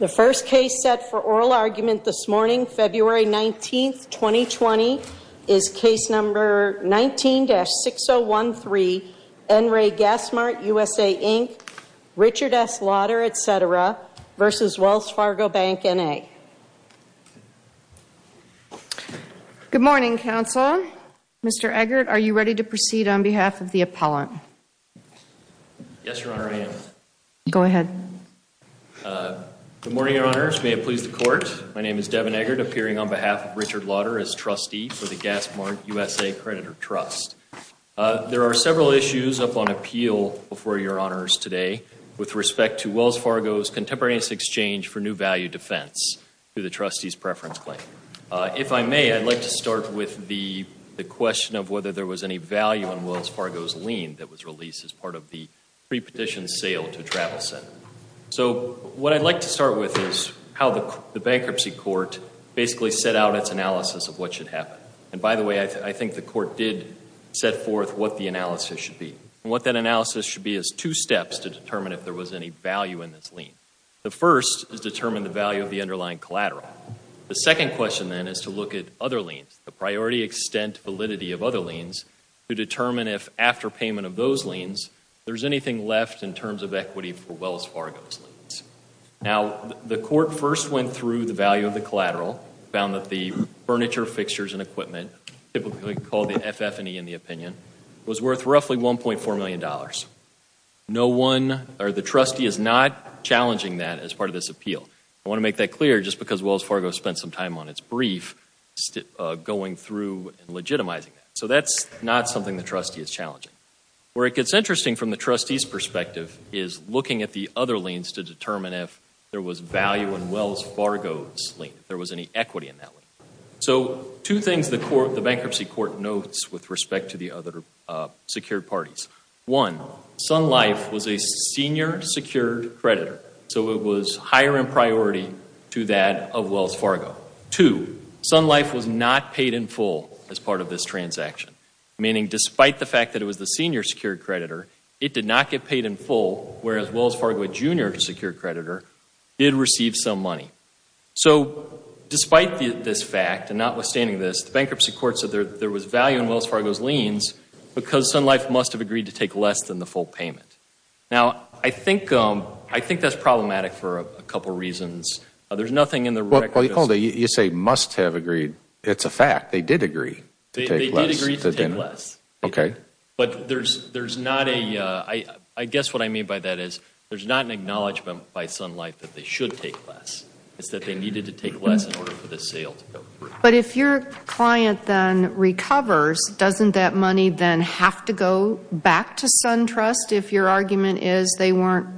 The first case set for oral argument this morning, February 19th, 2020, is case number 19-6013, N. Ray Gasmart, USA, Inc., Richard S. Lauter, etc. v. Wells Fargo Bank, N.A. Good morning, counsel. Mr. Eggert, are you ready to proceed on behalf of the appellant? Yes, Your Honor, I am. Go ahead. Good morning, Your Honors. May it please the Court, my name is Devin Eggert, appearing on behalf of Richard Lauter as trustee for the Gasmart, USA, Accreditor Trust. There are several issues up on appeal before Your Honors today with respect to Wells Fargo's contemporaneous exchange for new value defense through the trustee's preference claim. If I may, I'd like to start with the question of whether there was any value in Wells Fargo's lease that was released as part of the prepetition sale to Travel Center. So what I'd like to start with is how the bankruptcy court basically set out its analysis of what should happen. And by the way, I think the court did set forth what the analysis should be. And what that analysis should be is two steps to determine if there was any value in this lien. The first is determine the value of the underlying collateral. The second question then is to look at other liens to determine if after payment of those liens, there's anything left in terms of equity for Wells Fargo's liens. Now, the court first went through the value of the collateral, found that the furniture, fixtures, and equipment, typically called the FF&E in the opinion, was worth roughly $1.4 million. No one or the trustee is not challenging that as part of this appeal. I want to make that clear just because Wells Fargo spent some time on that. That's not something the trustee is challenging. Where it gets interesting from the trustee's perspective is looking at the other liens to determine if there was value in Wells Fargo's lien, if there was any equity in that lien. So two things the bankruptcy court notes with respect to the other secured parties. One, Sun Life was a senior secured creditor. So it was higher in priority to that of Wells Fargo. Two, Sun Life was not despite the fact that it was the senior secured creditor, it did not get paid in full, whereas Wells Fargo, a junior secured creditor, did receive some money. So despite this fact and notwithstanding this, the bankruptcy court said there was value in Wells Fargo's liens because Sun Life must have agreed to take less than the full payment. Now, I think that's problematic for a couple reasons. There's nothing in the record that says... Well, you say must have agreed. It's a fact. They did agree to take less. They did agree to take less. But there's not a... I guess what I mean by that is there's not an acknowledgement by Sun Life that they should take less. It's that they needed to take less in order for the sale to go through. But if your client then recovers, doesn't that money then have to go back to Sun Trust if your argument is they weren't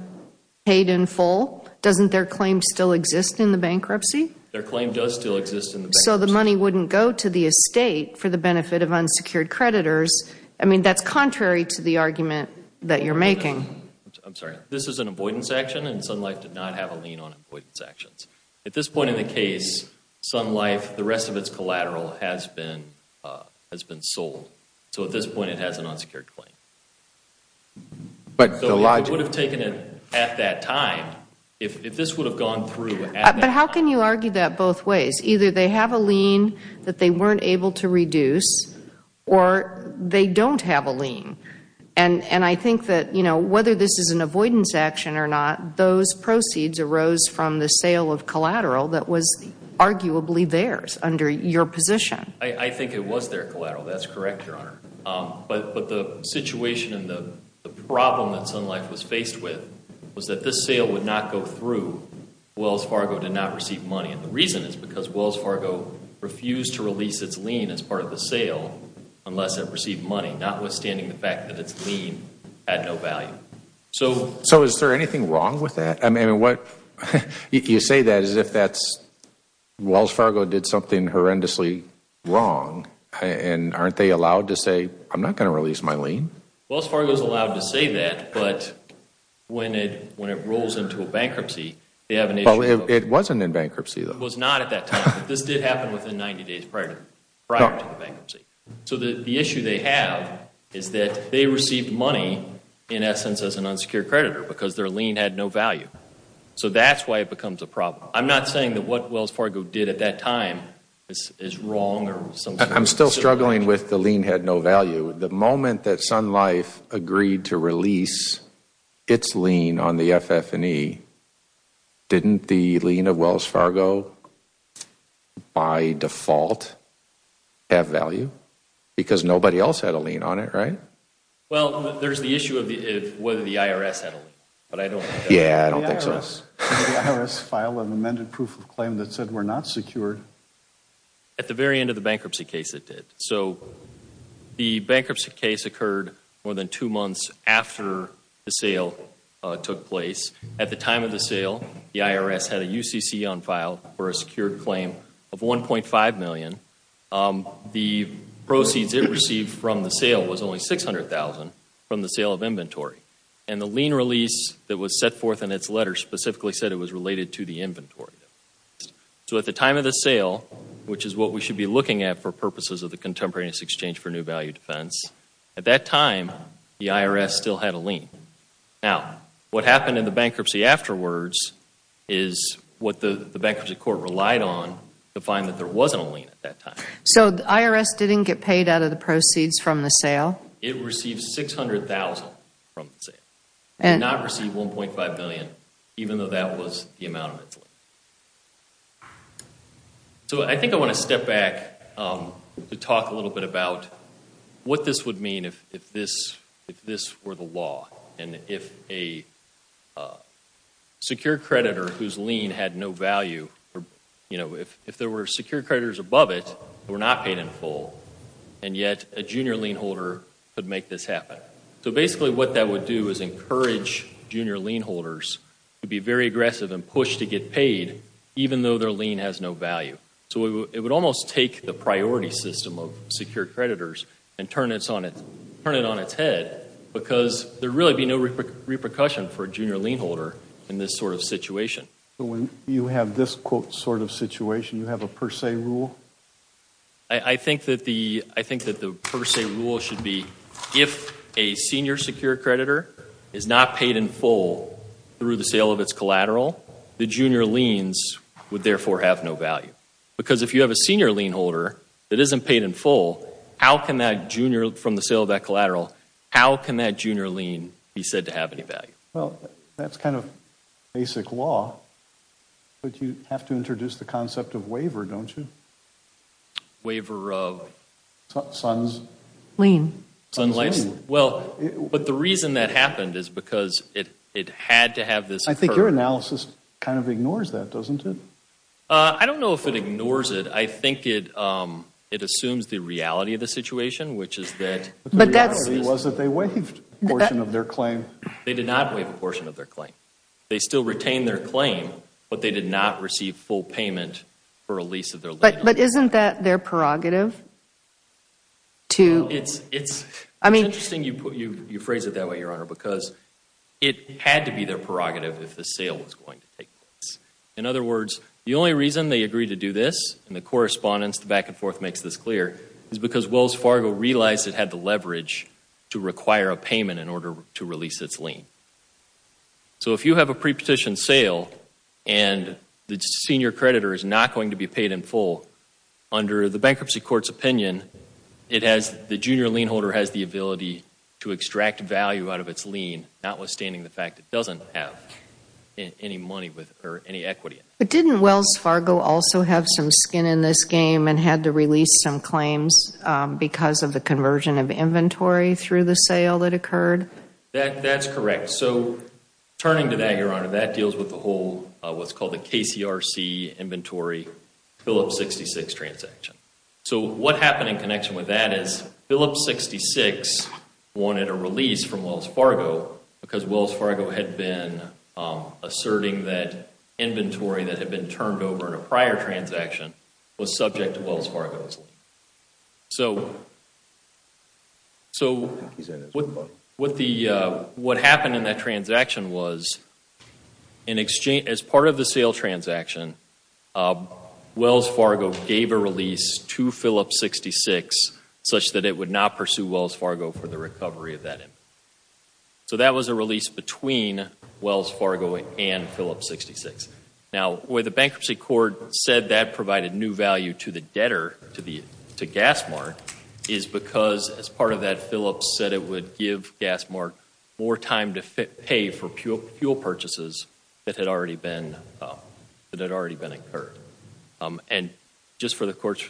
paid in full? Doesn't their claim still exist in the bankruptcy? Their claim does still exist in the bankruptcy. So the money wouldn't go to the estate for the benefit of unsecured creditors. I mean, that's contrary to the argument that you're making. I'm sorry. This is an avoidance action and Sun Life did not have a lien on avoidance actions. At this point in the case, Sun Life, the rest of its collateral has been sold. So at this point it has an unsecured claim. But the lie... It would have taken it at that time if this would have gone through at that time. But how can you argue that both ways? Either they have a lien that they weren't able to reduce or they don't have a lien. And I think that, you know, whether this is an avoidance action or not, those proceeds arose from the sale of collateral that was arguably theirs under your position. I think it was their collateral. That's correct, Your Honor. But the situation and the problem that Sun Life was faced with was that this sale would not go through if Wells Fargo did not receive money. And the reason is because Wells Fargo refused to release its lien as part of the sale unless it received money, notwithstanding the fact that its lien had no value. So is there anything wrong with that? I mean, you say that as if Wells Fargo did something horrendously wrong. And aren't they allowed to say, I'm not going to release my lien? Wells Fargo is allowed to say that, but when it rolls into a bankruptcy, they have an issue of Well, it wasn't in bankruptcy, though. It was not at that time. This did happen within 90 days prior to the bankruptcy. So the issue they have is that they received money, in essence, as an unsecured creditor because their lien had no value. So that's why it becomes a problem. I'm not saying that what Wells Fargo did at that time is wrong or something I'm still struggling with the lien had no value. The moment that Sun Life agreed to release its lien on the FF&E, didn't the lien of Wells Fargo, by default, have value? Because nobody else had a lien on it, right? Well, there's the issue of whether the IRS had a lien, but I don't think that's true. Yeah, I don't think so. Did the IRS file an amended proof of claim that said we're not secured? At the very end of the bankruptcy case, it did. So the bankruptcy case occurred more than two months after the sale took place. At the time of the sale, the IRS had a UCC on file for a secured claim of $1.5 million. The proceeds it received from the sale was only $600,000 from the sale of inventory. And the lien release that was set forth in the sale, which is what we should be looking at for purposes of the Contemporary Exchange for New Value defense, at that time, the IRS still had a lien. Now, what happened in the bankruptcy afterwards is what the bankruptcy court relied on to find that there wasn't a lien at that time. So the IRS didn't get paid out of the proceeds from the sale? It received $600,000 from the sale. It did not receive $1.5 million, even though that was the amount of its lien. So I think I want to step back to talk a little bit about what this would mean if this were the law, and if a secured creditor whose lien had no value, if there were secured creditors above it that were not paid in full, and yet a junior lien holder could make this happen. So basically what that would do is encourage junior lien holders to be very aggressive and push to get paid, even though their lien has no value. So it would almost take the priority system of secured creditors and turn it on its head, because there would really be no repercussion for a junior lien holder in this sort of situation. So when you have this sort of situation, you have a per se rule? I think that the per se rule should be, if a senior secured creditor is not paid in full through the sale of its collateral, the junior liens would therefore have no value. Because if you have a senior lien holder that isn't paid in full, how can that junior from the sale of that collateral, how can that junior lien be said to have any value? Well, that's kind of basic law, but you have to introduce the concept of waiver, don't you? Waiver of? Sons. Lien. Sons' lien. Well, but the reason that happened is because it had to have this. I think your analysis kind of ignores that, doesn't it? I don't know if it ignores it. I think it assumes the reality of the situation, which is that. But the reality was that they waived a portion of their claim. They did not waive a portion of their claim. They still retained their claim, but they did not receive full payment for a lease of their liability. But isn't that their prerogative? It's interesting you phrase it that way, Your Honor, because it had to be their prerogative if the sale was going to take place. In other words, the only reason they agreed to do this, and the correspondence, the back and forth makes this clear, is because Wells Fargo realized it had the leverage to require a payment in order to release its lien. So if you have a pre-petition sale and the senior creditor is not going to be paid in full, under the bankruptcy court's opinion, the junior lien holder has the ability to extract value out of its lien, notwithstanding the fact it doesn't have any money or any equity. But didn't Wells Fargo also have some skin in this game and had to release some claims because of the conversion of inventory through the sale that occurred? That's correct. So turning to that, Your Honor, that deals with the whole, what's called the KCRC inventory Phillips 66 transaction. So what happened in connection with that is Phillips 66 wanted a release from Wells Fargo because Wells Fargo had been asserting that inventory that had been turned over in a prior transaction was subject to Wells Fargo's lien. So what happened in that transaction was, as part of the sale transaction, Wells Fargo gave a release to Phillips 66 such that it would not pursue Wells Fargo for the recovery of that inventory. So that was a release between Wells Fargo and Phillips 66. Now, where the bankruptcy court said that provided new value to the debtor, to GasMart, is because, as part of that, Phillips said it would give GasMart more time to pay for fuel purchases that had already been incurred. And just for the Court's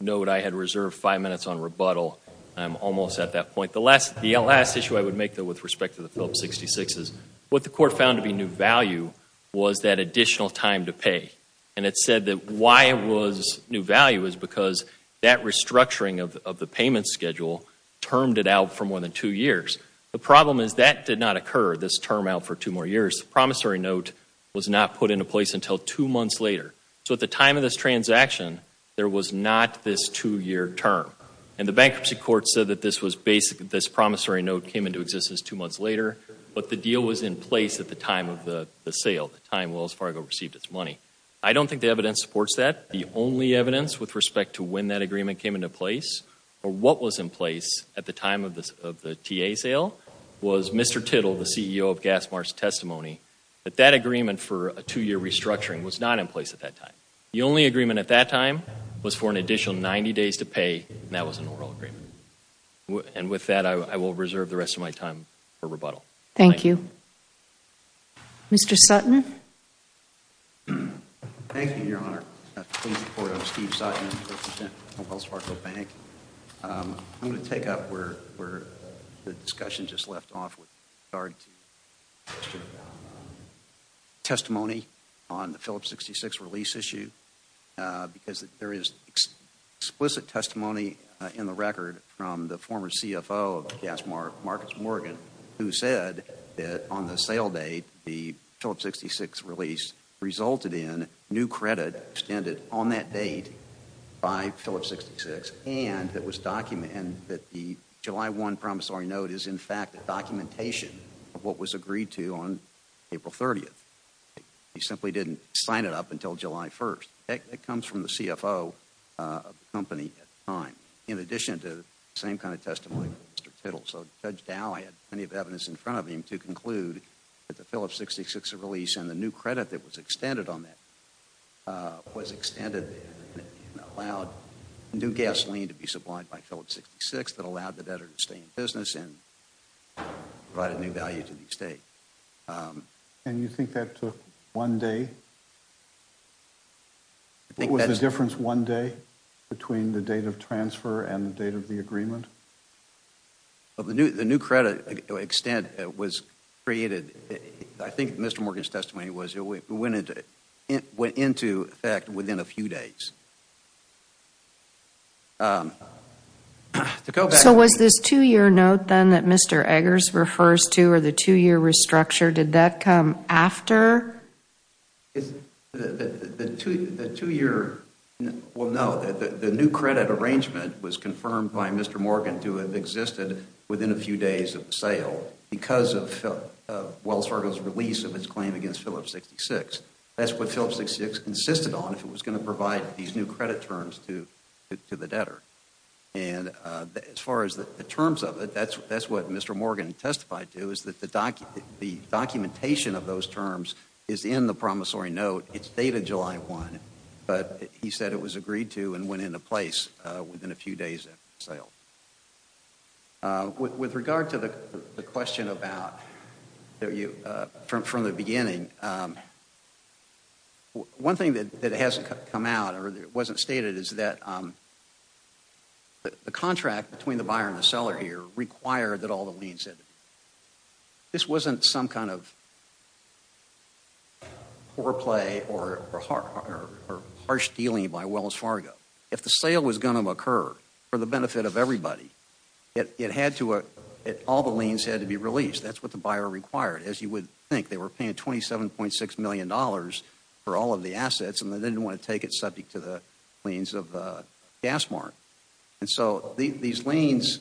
note, I had reserved five minutes on rebuttal. I'm almost at that point. The last issue I would make, though, with respect to the Phillips 66 is what the court found to be new value was that additional time to pay. And it said that why it was new value is because that restructuring of the payment schedule termed it out for more than two years. The problem is that did not occur, this term out for two more years. The promissory note was not put into place until two months later. So at the time of this transaction, there was not this two-year term. And the bankruptcy court said that this promissory note came into existence two months later, but the deal was in place at the time of the sale, the time Wells Fargo received its money. I don't think the evidence supports that. The only evidence with respect to when that agreement came into place or what was in place at the time of the TA sale was Mr. Tittle, the CEO of GasMart's testimony, that that agreement for a two-year restructuring was not in place at that time. The only agreement at that time was for an additional 90 days to pay, and that was an oral agreement. And with that, I will reserve the rest of my time for rebuttal. Thank you. Mr. Sutton. Thank you, Your Honor. I'm Steve Sutton. I represent Wells Fargo Bank. I'm going to take up where the discussion just left off with regard to testimony on the Phillips 66 release issue, because there is explicit testimony in the record from the former CFO of GasMart, Marcus Morgan, who said that on the sale date, the Phillips 66 release resulted in new credit extended on that date by Phillips 66, and that the July 1 promissory note is in fact a documentation of what was agreed to on April 30th. He simply didn't sign it up until July 1st. That comes from the CFO of the company at the time, in addition to the same kind of testimony from Mr. Tittle. So Judge Dow had plenty of evidence in front of him to conclude that the Phillips 66 release and the new credit that was extended on that was extended and allowed new gasoline to be supplied by Phillips 66 that allowed the debtor to stay in business and provided new value to the estate. And you think that took one day? What was the difference one day between the date of transfer and the date of the agreement? The new credit extent that was created, I think Mr. Morgan's testimony went into effect within a few days. So was this two-year note then that Mr. Eggers refers to, or the two-year restructure, did that come after? The two-year, well no, the new credit arrangement was confirmed by Mr. Morgan to have existed within a few days of the sale because of Wells Fargo's release of its claim against Phillips 66. That's what Phillips 66 consisted on if it was going to provide the new credit terms to the debtor. And as far as the terms of it, that's what Mr. Morgan testified to is that the documentation of those terms is in the promissory note. It's dated July 1, but he said it was agreed to and went into place within a few days after the sale. With regard to the question about, from the beginning, one thing that hasn't come out or wasn't stated is that the contract between the buyer and the seller here required that all the leads, this wasn't some kind of foreplay or harsh dealing by Wells Fargo. If the sale was going to occur for the benefit of everybody, all the liens had to be released. That's what the buyer required. As you would think, they were paying $27.6 million for all of the assets and they didn't want to take it subject to the liens of GasMart. And so these liens,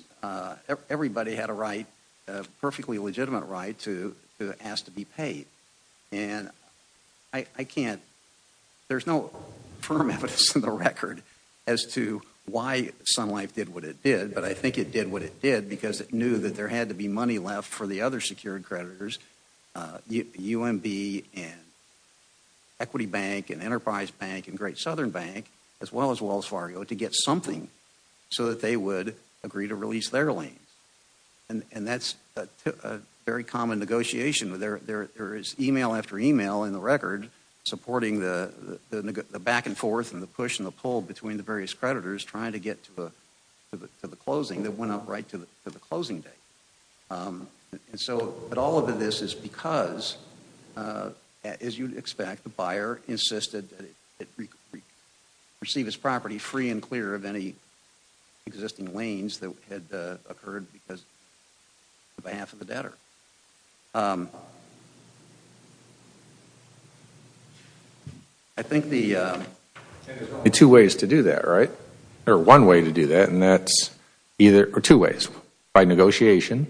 everybody had a right, a perfectly legitimate right to ask to be why Sun Life did what it did, but I think it did what it did because it knew that there had to be money left for the other secured creditors, UMB and Equity Bank and Enterprise Bank and Great Southern Bank, as well as Wells Fargo, to get something so that they would agree to release their liens. And that's a very common negotiation. There is email after email between the various creditors trying to get to the closing that went up right to the closing date. And so, but all of this is because, as you'd expect, the buyer insisted that it receive its property free and clear of any existing liens that had occurred because on behalf of the debtor. I think the There are two ways to do that, right? Or one way to do that, and that's either, or two ways. By negotiation,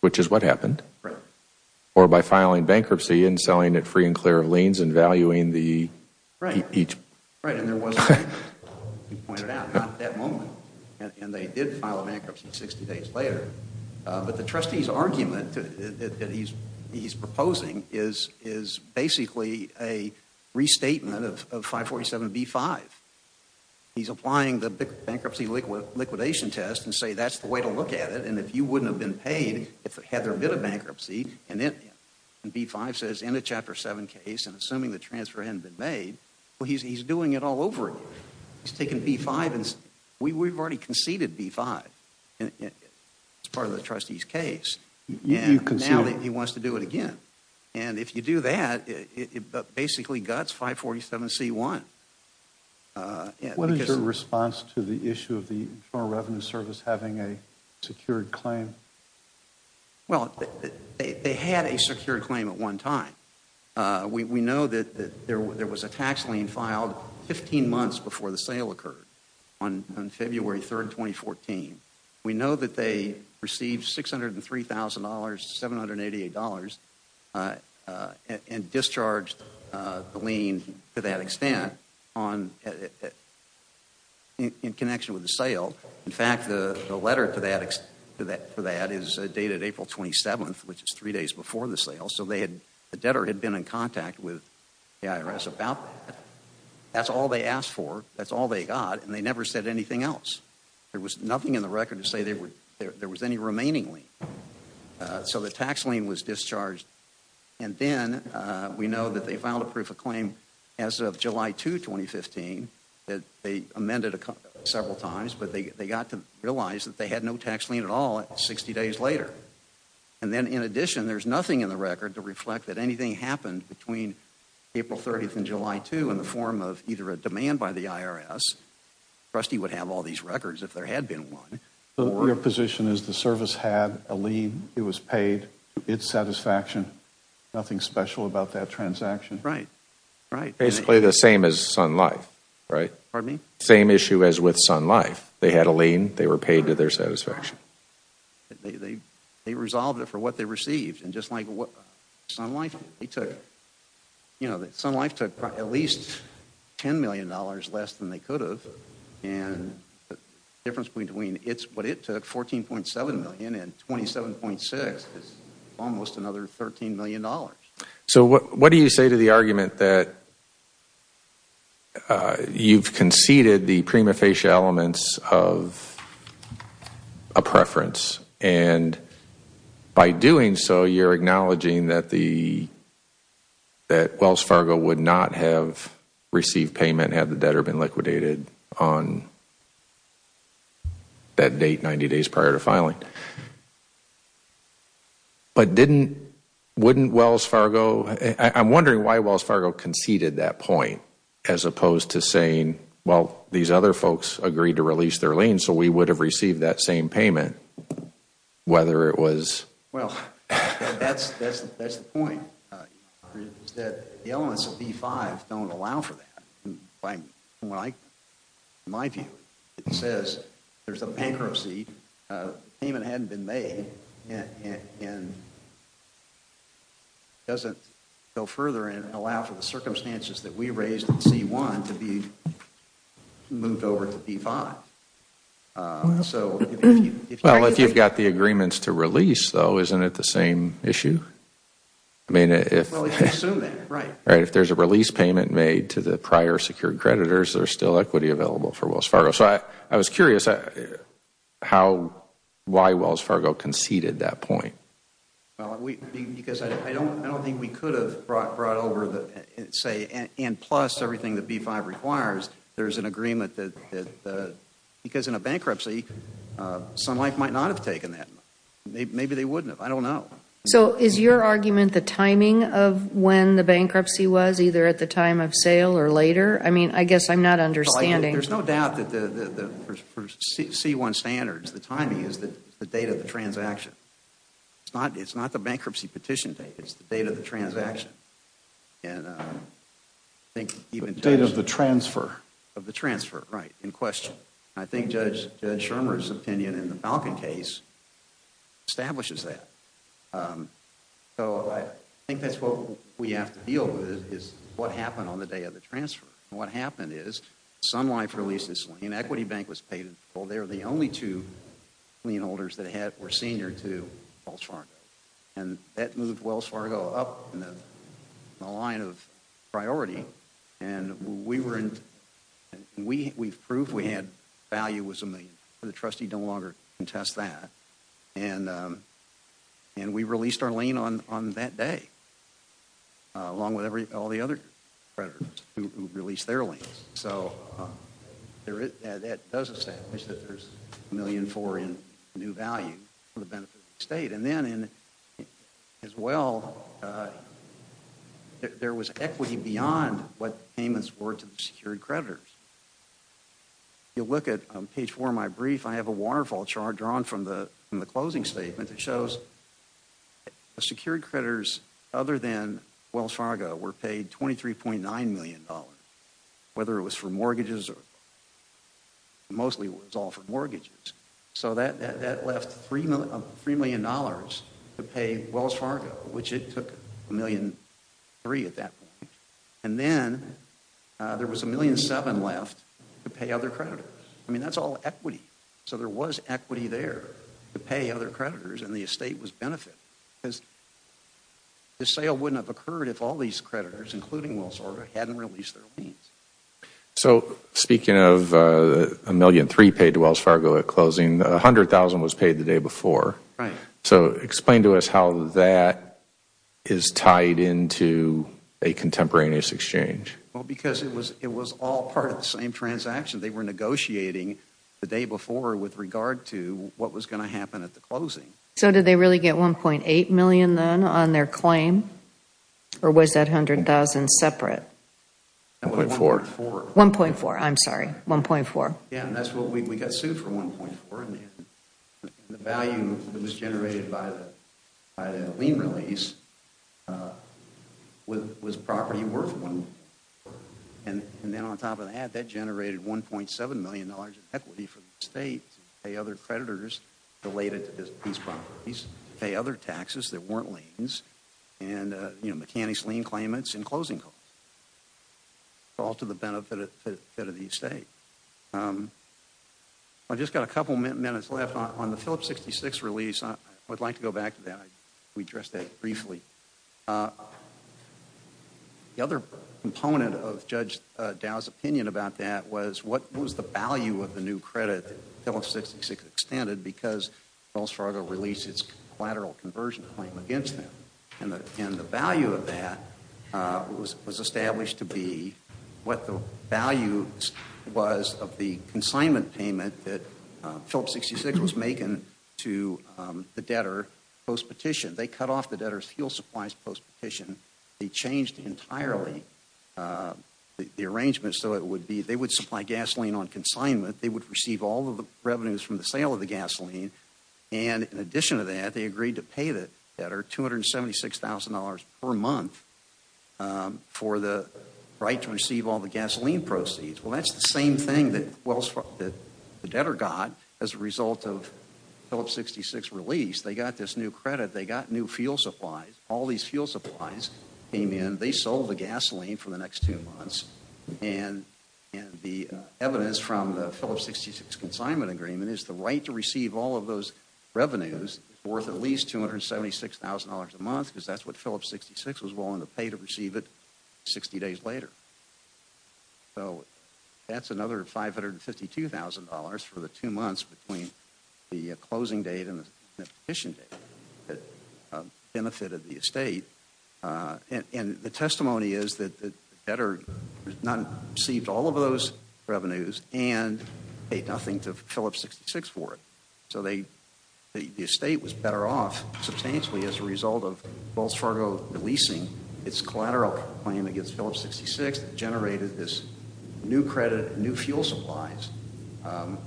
which is what happened, or by filing bankruptcy and selling it free and clear of liens and valuing the Right. Each But the trustee's argument that he's proposing is basically a restatement of 547B5. He's applying the bankruptcy liquidation test and say that's the way to look at it, and if you wouldn't have been paid if it had their bid of bankruptcy, and then B5 says in a Chapter 7 case, and assuming the transfer hadn't been made, well, he's doing it all over again. He's taking B5, and we've already conceded B5 as part of the trustee's case, and now he wants to do it again. And if you do that, it basically guts 547C1. What is your response to the issue of the Internal Revenue Service having a secured claim? Well, they had a secured claim at one time. We know that there was a tax lien filed 15 days before the sale occurred on February 3, 2014. We know that they received $603,000 to $788 and discharged the lien to that extent in connection with the sale. In fact, the letter to that is dated April 27th, which is three days before the sale, so the debtor had been in contact with the IRS about that. That's all they asked for. That's all they got, and they never said anything else. There was nothing in the record to say there was any remaining lien. So the tax lien was discharged, and then we know that they filed a proof of claim as of July 2, 2015 that they amended several times, but they got to realize that they had no tax lien at all 60 days later. And then, in addition, there's nothing in the record to reflect that anything happened between April 30th and July 2 in the form of either a demand by the IRS, the trustee would have all these records if there had been one. So your position is the service had a lien, it was paid, it's satisfaction, nothing special about that transaction? Right. Basically the same as Sun Life, right? Pardon me? Same issue as with Sun Life. They had a lien, they were paid to their satisfaction. They resolved it for what they received, and just like Sun Life, they took, you know, Sun Life took at least $10 million less than they could have, and the difference between what it took, $14.7 million, and $27.6 million is almost another $13 million. So what do you say to the argument that you've conceded the prima facie elements of a preference, and by doing so, you're acknowledging that Wells Fargo would not have received payment had the debtor been liquidated on that date, 90 days prior to filing. But didn't, wouldn't Wells Fargo, I'm wondering why Wells Fargo conceded that point, as opposed to saying, well, these other folks agreed to release their lien, so we would have received that same payment, whether it was... Well, that's the point, is that the elements of B-5 don't allow for that. In my view, it says there's a bankruptcy, payment hadn't been made, and doesn't go further and allow for the circumstances that we raised in C-1 to be moved over to B-5. Well, if you've got the agreements to release, though, isn't it the same issue? I mean, if there's a release payment made to the prior secured creditors, there's still equity available for Wells Fargo. So I was curious how, why Wells Fargo conceded that point. Because I don't think we could have brought over, say, and plus everything that B-5 requires, there's an agreement that, because in a bankruptcy, Sun Life might not have taken that. Maybe they wouldn't have. I don't know. So is your argument the timing of when the bankruptcy was, either at the time of sale or later? I mean, I guess I'm not understanding. There's no doubt that for C-1 standards, the timing is the date of the transaction. It's not the bankruptcy petition date. It's the date of the transaction. The date of the transfer. Of the transfer, right, in question. I think Judge Schirmer's opinion in the Falcon case establishes that. So I think that's what we have to deal with is what happened on the day of the transfer. And what happened is Sun Life released this lien. Equity Bank was paid. Well, they were the only two lien holders that were senior to Wells Fargo. And that moved Wells Fargo up in the line of priority. And we were in, we proved we had value was a million. The trustee don't longer contest that. And we released our lien on that day. Along with all the other creditors who released their liens. So that does establish that there's a million for in new value for the benefit of the state. And then, as well, there was equity beyond what payments were to the secured creditors. You look at page four of my brief, I have a waterfall chart drawn from the closing statement that shows secured creditors, other than Wells Fargo, were paid $23.9 million. Whether it was for mortgages or, mostly it was all for mortgages. So that left $3 million to pay Wells Fargo, which it took $1.3 million at that point. And then there was $1.7 million left to pay other creditors. I mean, that's all equity. So there was equity there to pay other creditors and the estate was benefited. Because the sale wouldn't have occurred if all these creditors, including Wells Fargo, hadn't released their liens. So speaking of $1.3 million paid to Wells Fargo at closing, $100,000 was paid the day before. Right. So explain to us how that is tied into a contemporaneous exchange. Well, because it was all part of the same transaction. They were negotiating the day before with regard to what was going to happen at the closing. So did they really get $1.8 million then on their claim? Or was that $100,000 separate? $1.4. $1.4, I'm sorry. $1.4. Yeah, and that's what we got sued for, $1.4 million. The value that was generated by the lien release was property worth $1.4 million. And then on top of that, that generated $1.7 million in equity for the estate to pay other creditors related to these properties, pay other taxes that weren't liens, and, you know, mechanics lien claimants and closing claims. It's all to the benefit of the estate. I've just got a couple minutes left. On the Phillips 66 release, I would like to go back to that. Let me address that briefly. The other component of Judge Dow's opinion about that was what was the value of the new credit that Phillips 66 extended because Wells Fargo released its collateral conversion claim against them. And the value of that was established to be what the value was of the consignment payment that Phillips 66 was making to the debtor post-petition. They cut off the debtor's fuel supplies post-petition. They changed entirely the arrangement so it would be they would supply gasoline on consignment. They would receive all of the revenues from the sale of the gasoline. And in addition to that, they agreed to pay the debtor $276,000 per month for the right to receive all the gasoline proceeds. Well, that's the same thing that the debtor got as a result of Phillips 66 release. They got this new credit. They got new fuel supplies. All these fuel supplies came in. They sold the gasoline for the next two months. And the evidence from the Phillips 66 consignment agreement is the right to receive all of those revenues worth at least $276,000 a month because that's what Phillips 66 was willing to pay to receive it 60 days later. So that's another $552,000 for the two months between the closing date and the petition date that benefited the estate. And the testimony is that the debtor received all of those revenues and paid nothing to Phillips 66 for it. So the estate was better off substantially as a result of Wells Fargo releasing its collateral claim against Phillips 66 that generated this new credit and new fuel supplies for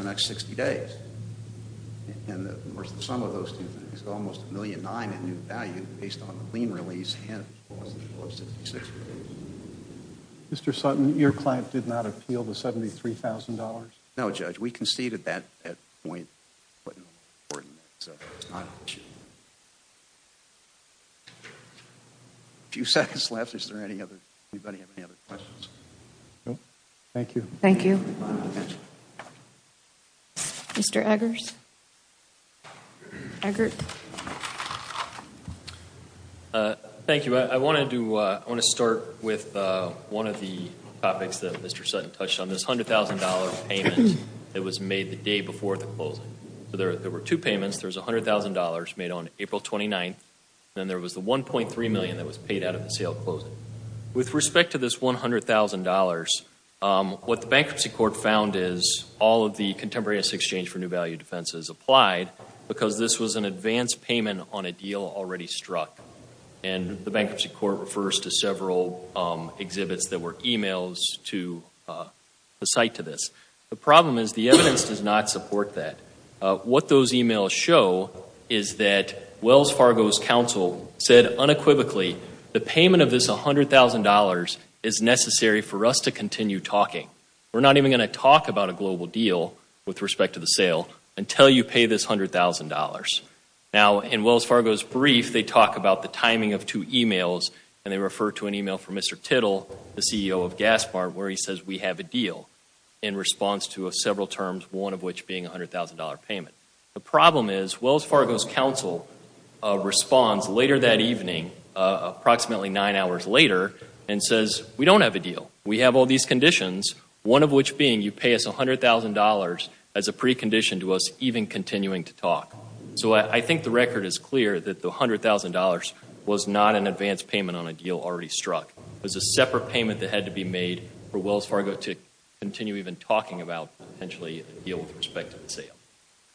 the next 60 days. And the sum of those two things is almost $1.9 million in new value based on the lien release and the Phillips 66 release. Mr. Sutton, your client did not appeal the $73,000? No, Judge. We conceded that at that point. A few seconds left. Does anybody have any other questions? No. Thank you. Thank you. Mr. Eggers? Eggert? Thank you. I want to start with one of the topics that Mr. Sutton touched on. This $100,000 payment that was made the day before the closing. There were two payments. There was $100,000 made on April 29th. Then there was the $1.3 million that was paid out of the sale closing. With respect to this $100,000, what the bankruptcy court found is all of the contemporaneous exchange for new value defenses applied because this was an advance payment on a deal already struck. And the bankruptcy court refers to several exhibits that were emails to the site to this. The problem is the evidence does not support that. What those emails show is that Wells Fargo's counsel said unequivocally, the payment of this $100,000 is necessary for us to continue talking. We're not even going to talk about a global deal with respect to the sale until you pay this $100,000. Now, in Wells Fargo's brief, they talk about the timing of two emails, and they refer to an email from Mr. Tittle, the CEO of Gaspart, where he says we have a deal in response to several terms, one of which being a $100,000 payment. The problem is Wells Fargo's counsel responds later that evening, approximately nine hours later, and says we don't have a deal. We have all these conditions, one of which being you pay us $100,000 as a precondition to us even continuing to talk. So I think the record is clear that the $100,000 was not an advance payment on a deal already struck. It was a separate payment that had to be made for Wells Fargo to continue even talking about, potentially, a deal with respect to the sale.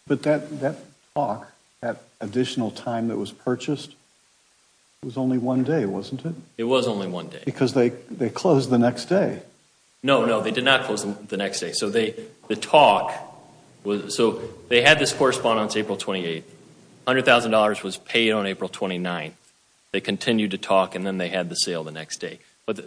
But that talk, that additional time that was purchased, was only one day, wasn't it? It was only one day. Because they closed the next day. No, no, they did not close the next day. So they had this correspondence April 28th. $100,000 was paid on April 29th. They continued to talk and then they had the sale the next day. What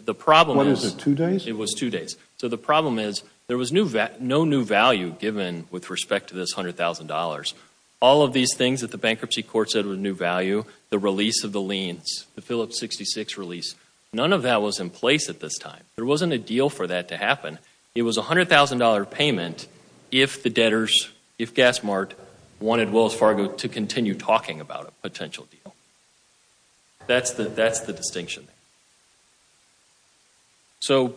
is it, two days? It was two days. So the problem is there was no new value given with respect to this $100,000. All of these things that the bankruptcy court said were new value, the release of the liens, the Phillips 66 release, none of that was in place at this time. There wasn't a deal for that to happen. It was a $100,000 payment if the debtors, if GasMart, wanted Wells Fargo to continue talking about a potential deal. That's the distinction. So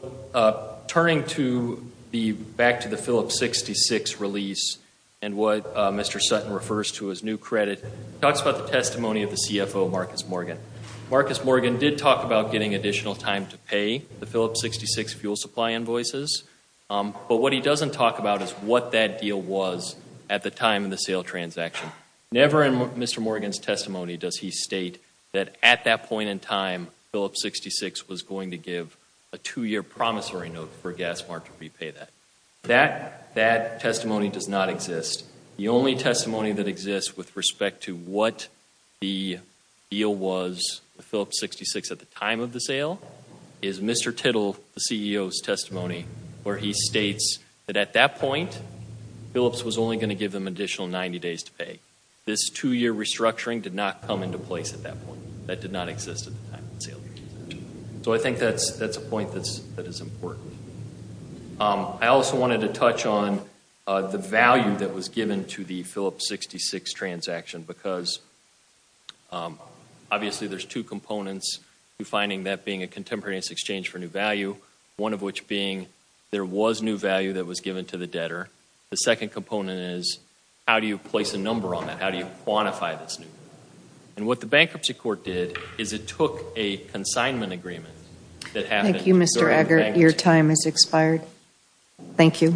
turning back to the Phillips 66 release and what Mr. Sutton refers to as new credit, he talks about the testimony of the CFO, Marcus Morgan. Marcus Morgan did talk about getting additional time to pay the Phillips 66 fuel supply invoices. But what he doesn't talk about is what that deal was at the time of the sale transaction. Never in Mr. Morgan's testimony does he state that at that point in time, Phillips 66 was going to give a two-year promissory note for GasMart to repay that. That testimony does not exist. The only testimony that exists with respect to what the deal was with Phillips 66 at the time of the sale is Mr. Tittle, the CEO's testimony, where he states that at that point, Phillips was only going to give them additional 90 days to pay. This two-year restructuring did not come into place at that point. That did not exist at the time of the sale. So I think that's a point that is important. I also wanted to touch on the value that was given to the Phillips 66 transaction because obviously there's two components to finding that being a contemporaneous exchange for new value, one of which being there was new value that was given to the debtor. The second component is how do you place a number on that? How do you quantify this new value? And what the Bankruptcy Court did is it took a consignment agreement that happened Thank you, Mr. Eggert. Your time has expired. Thank you.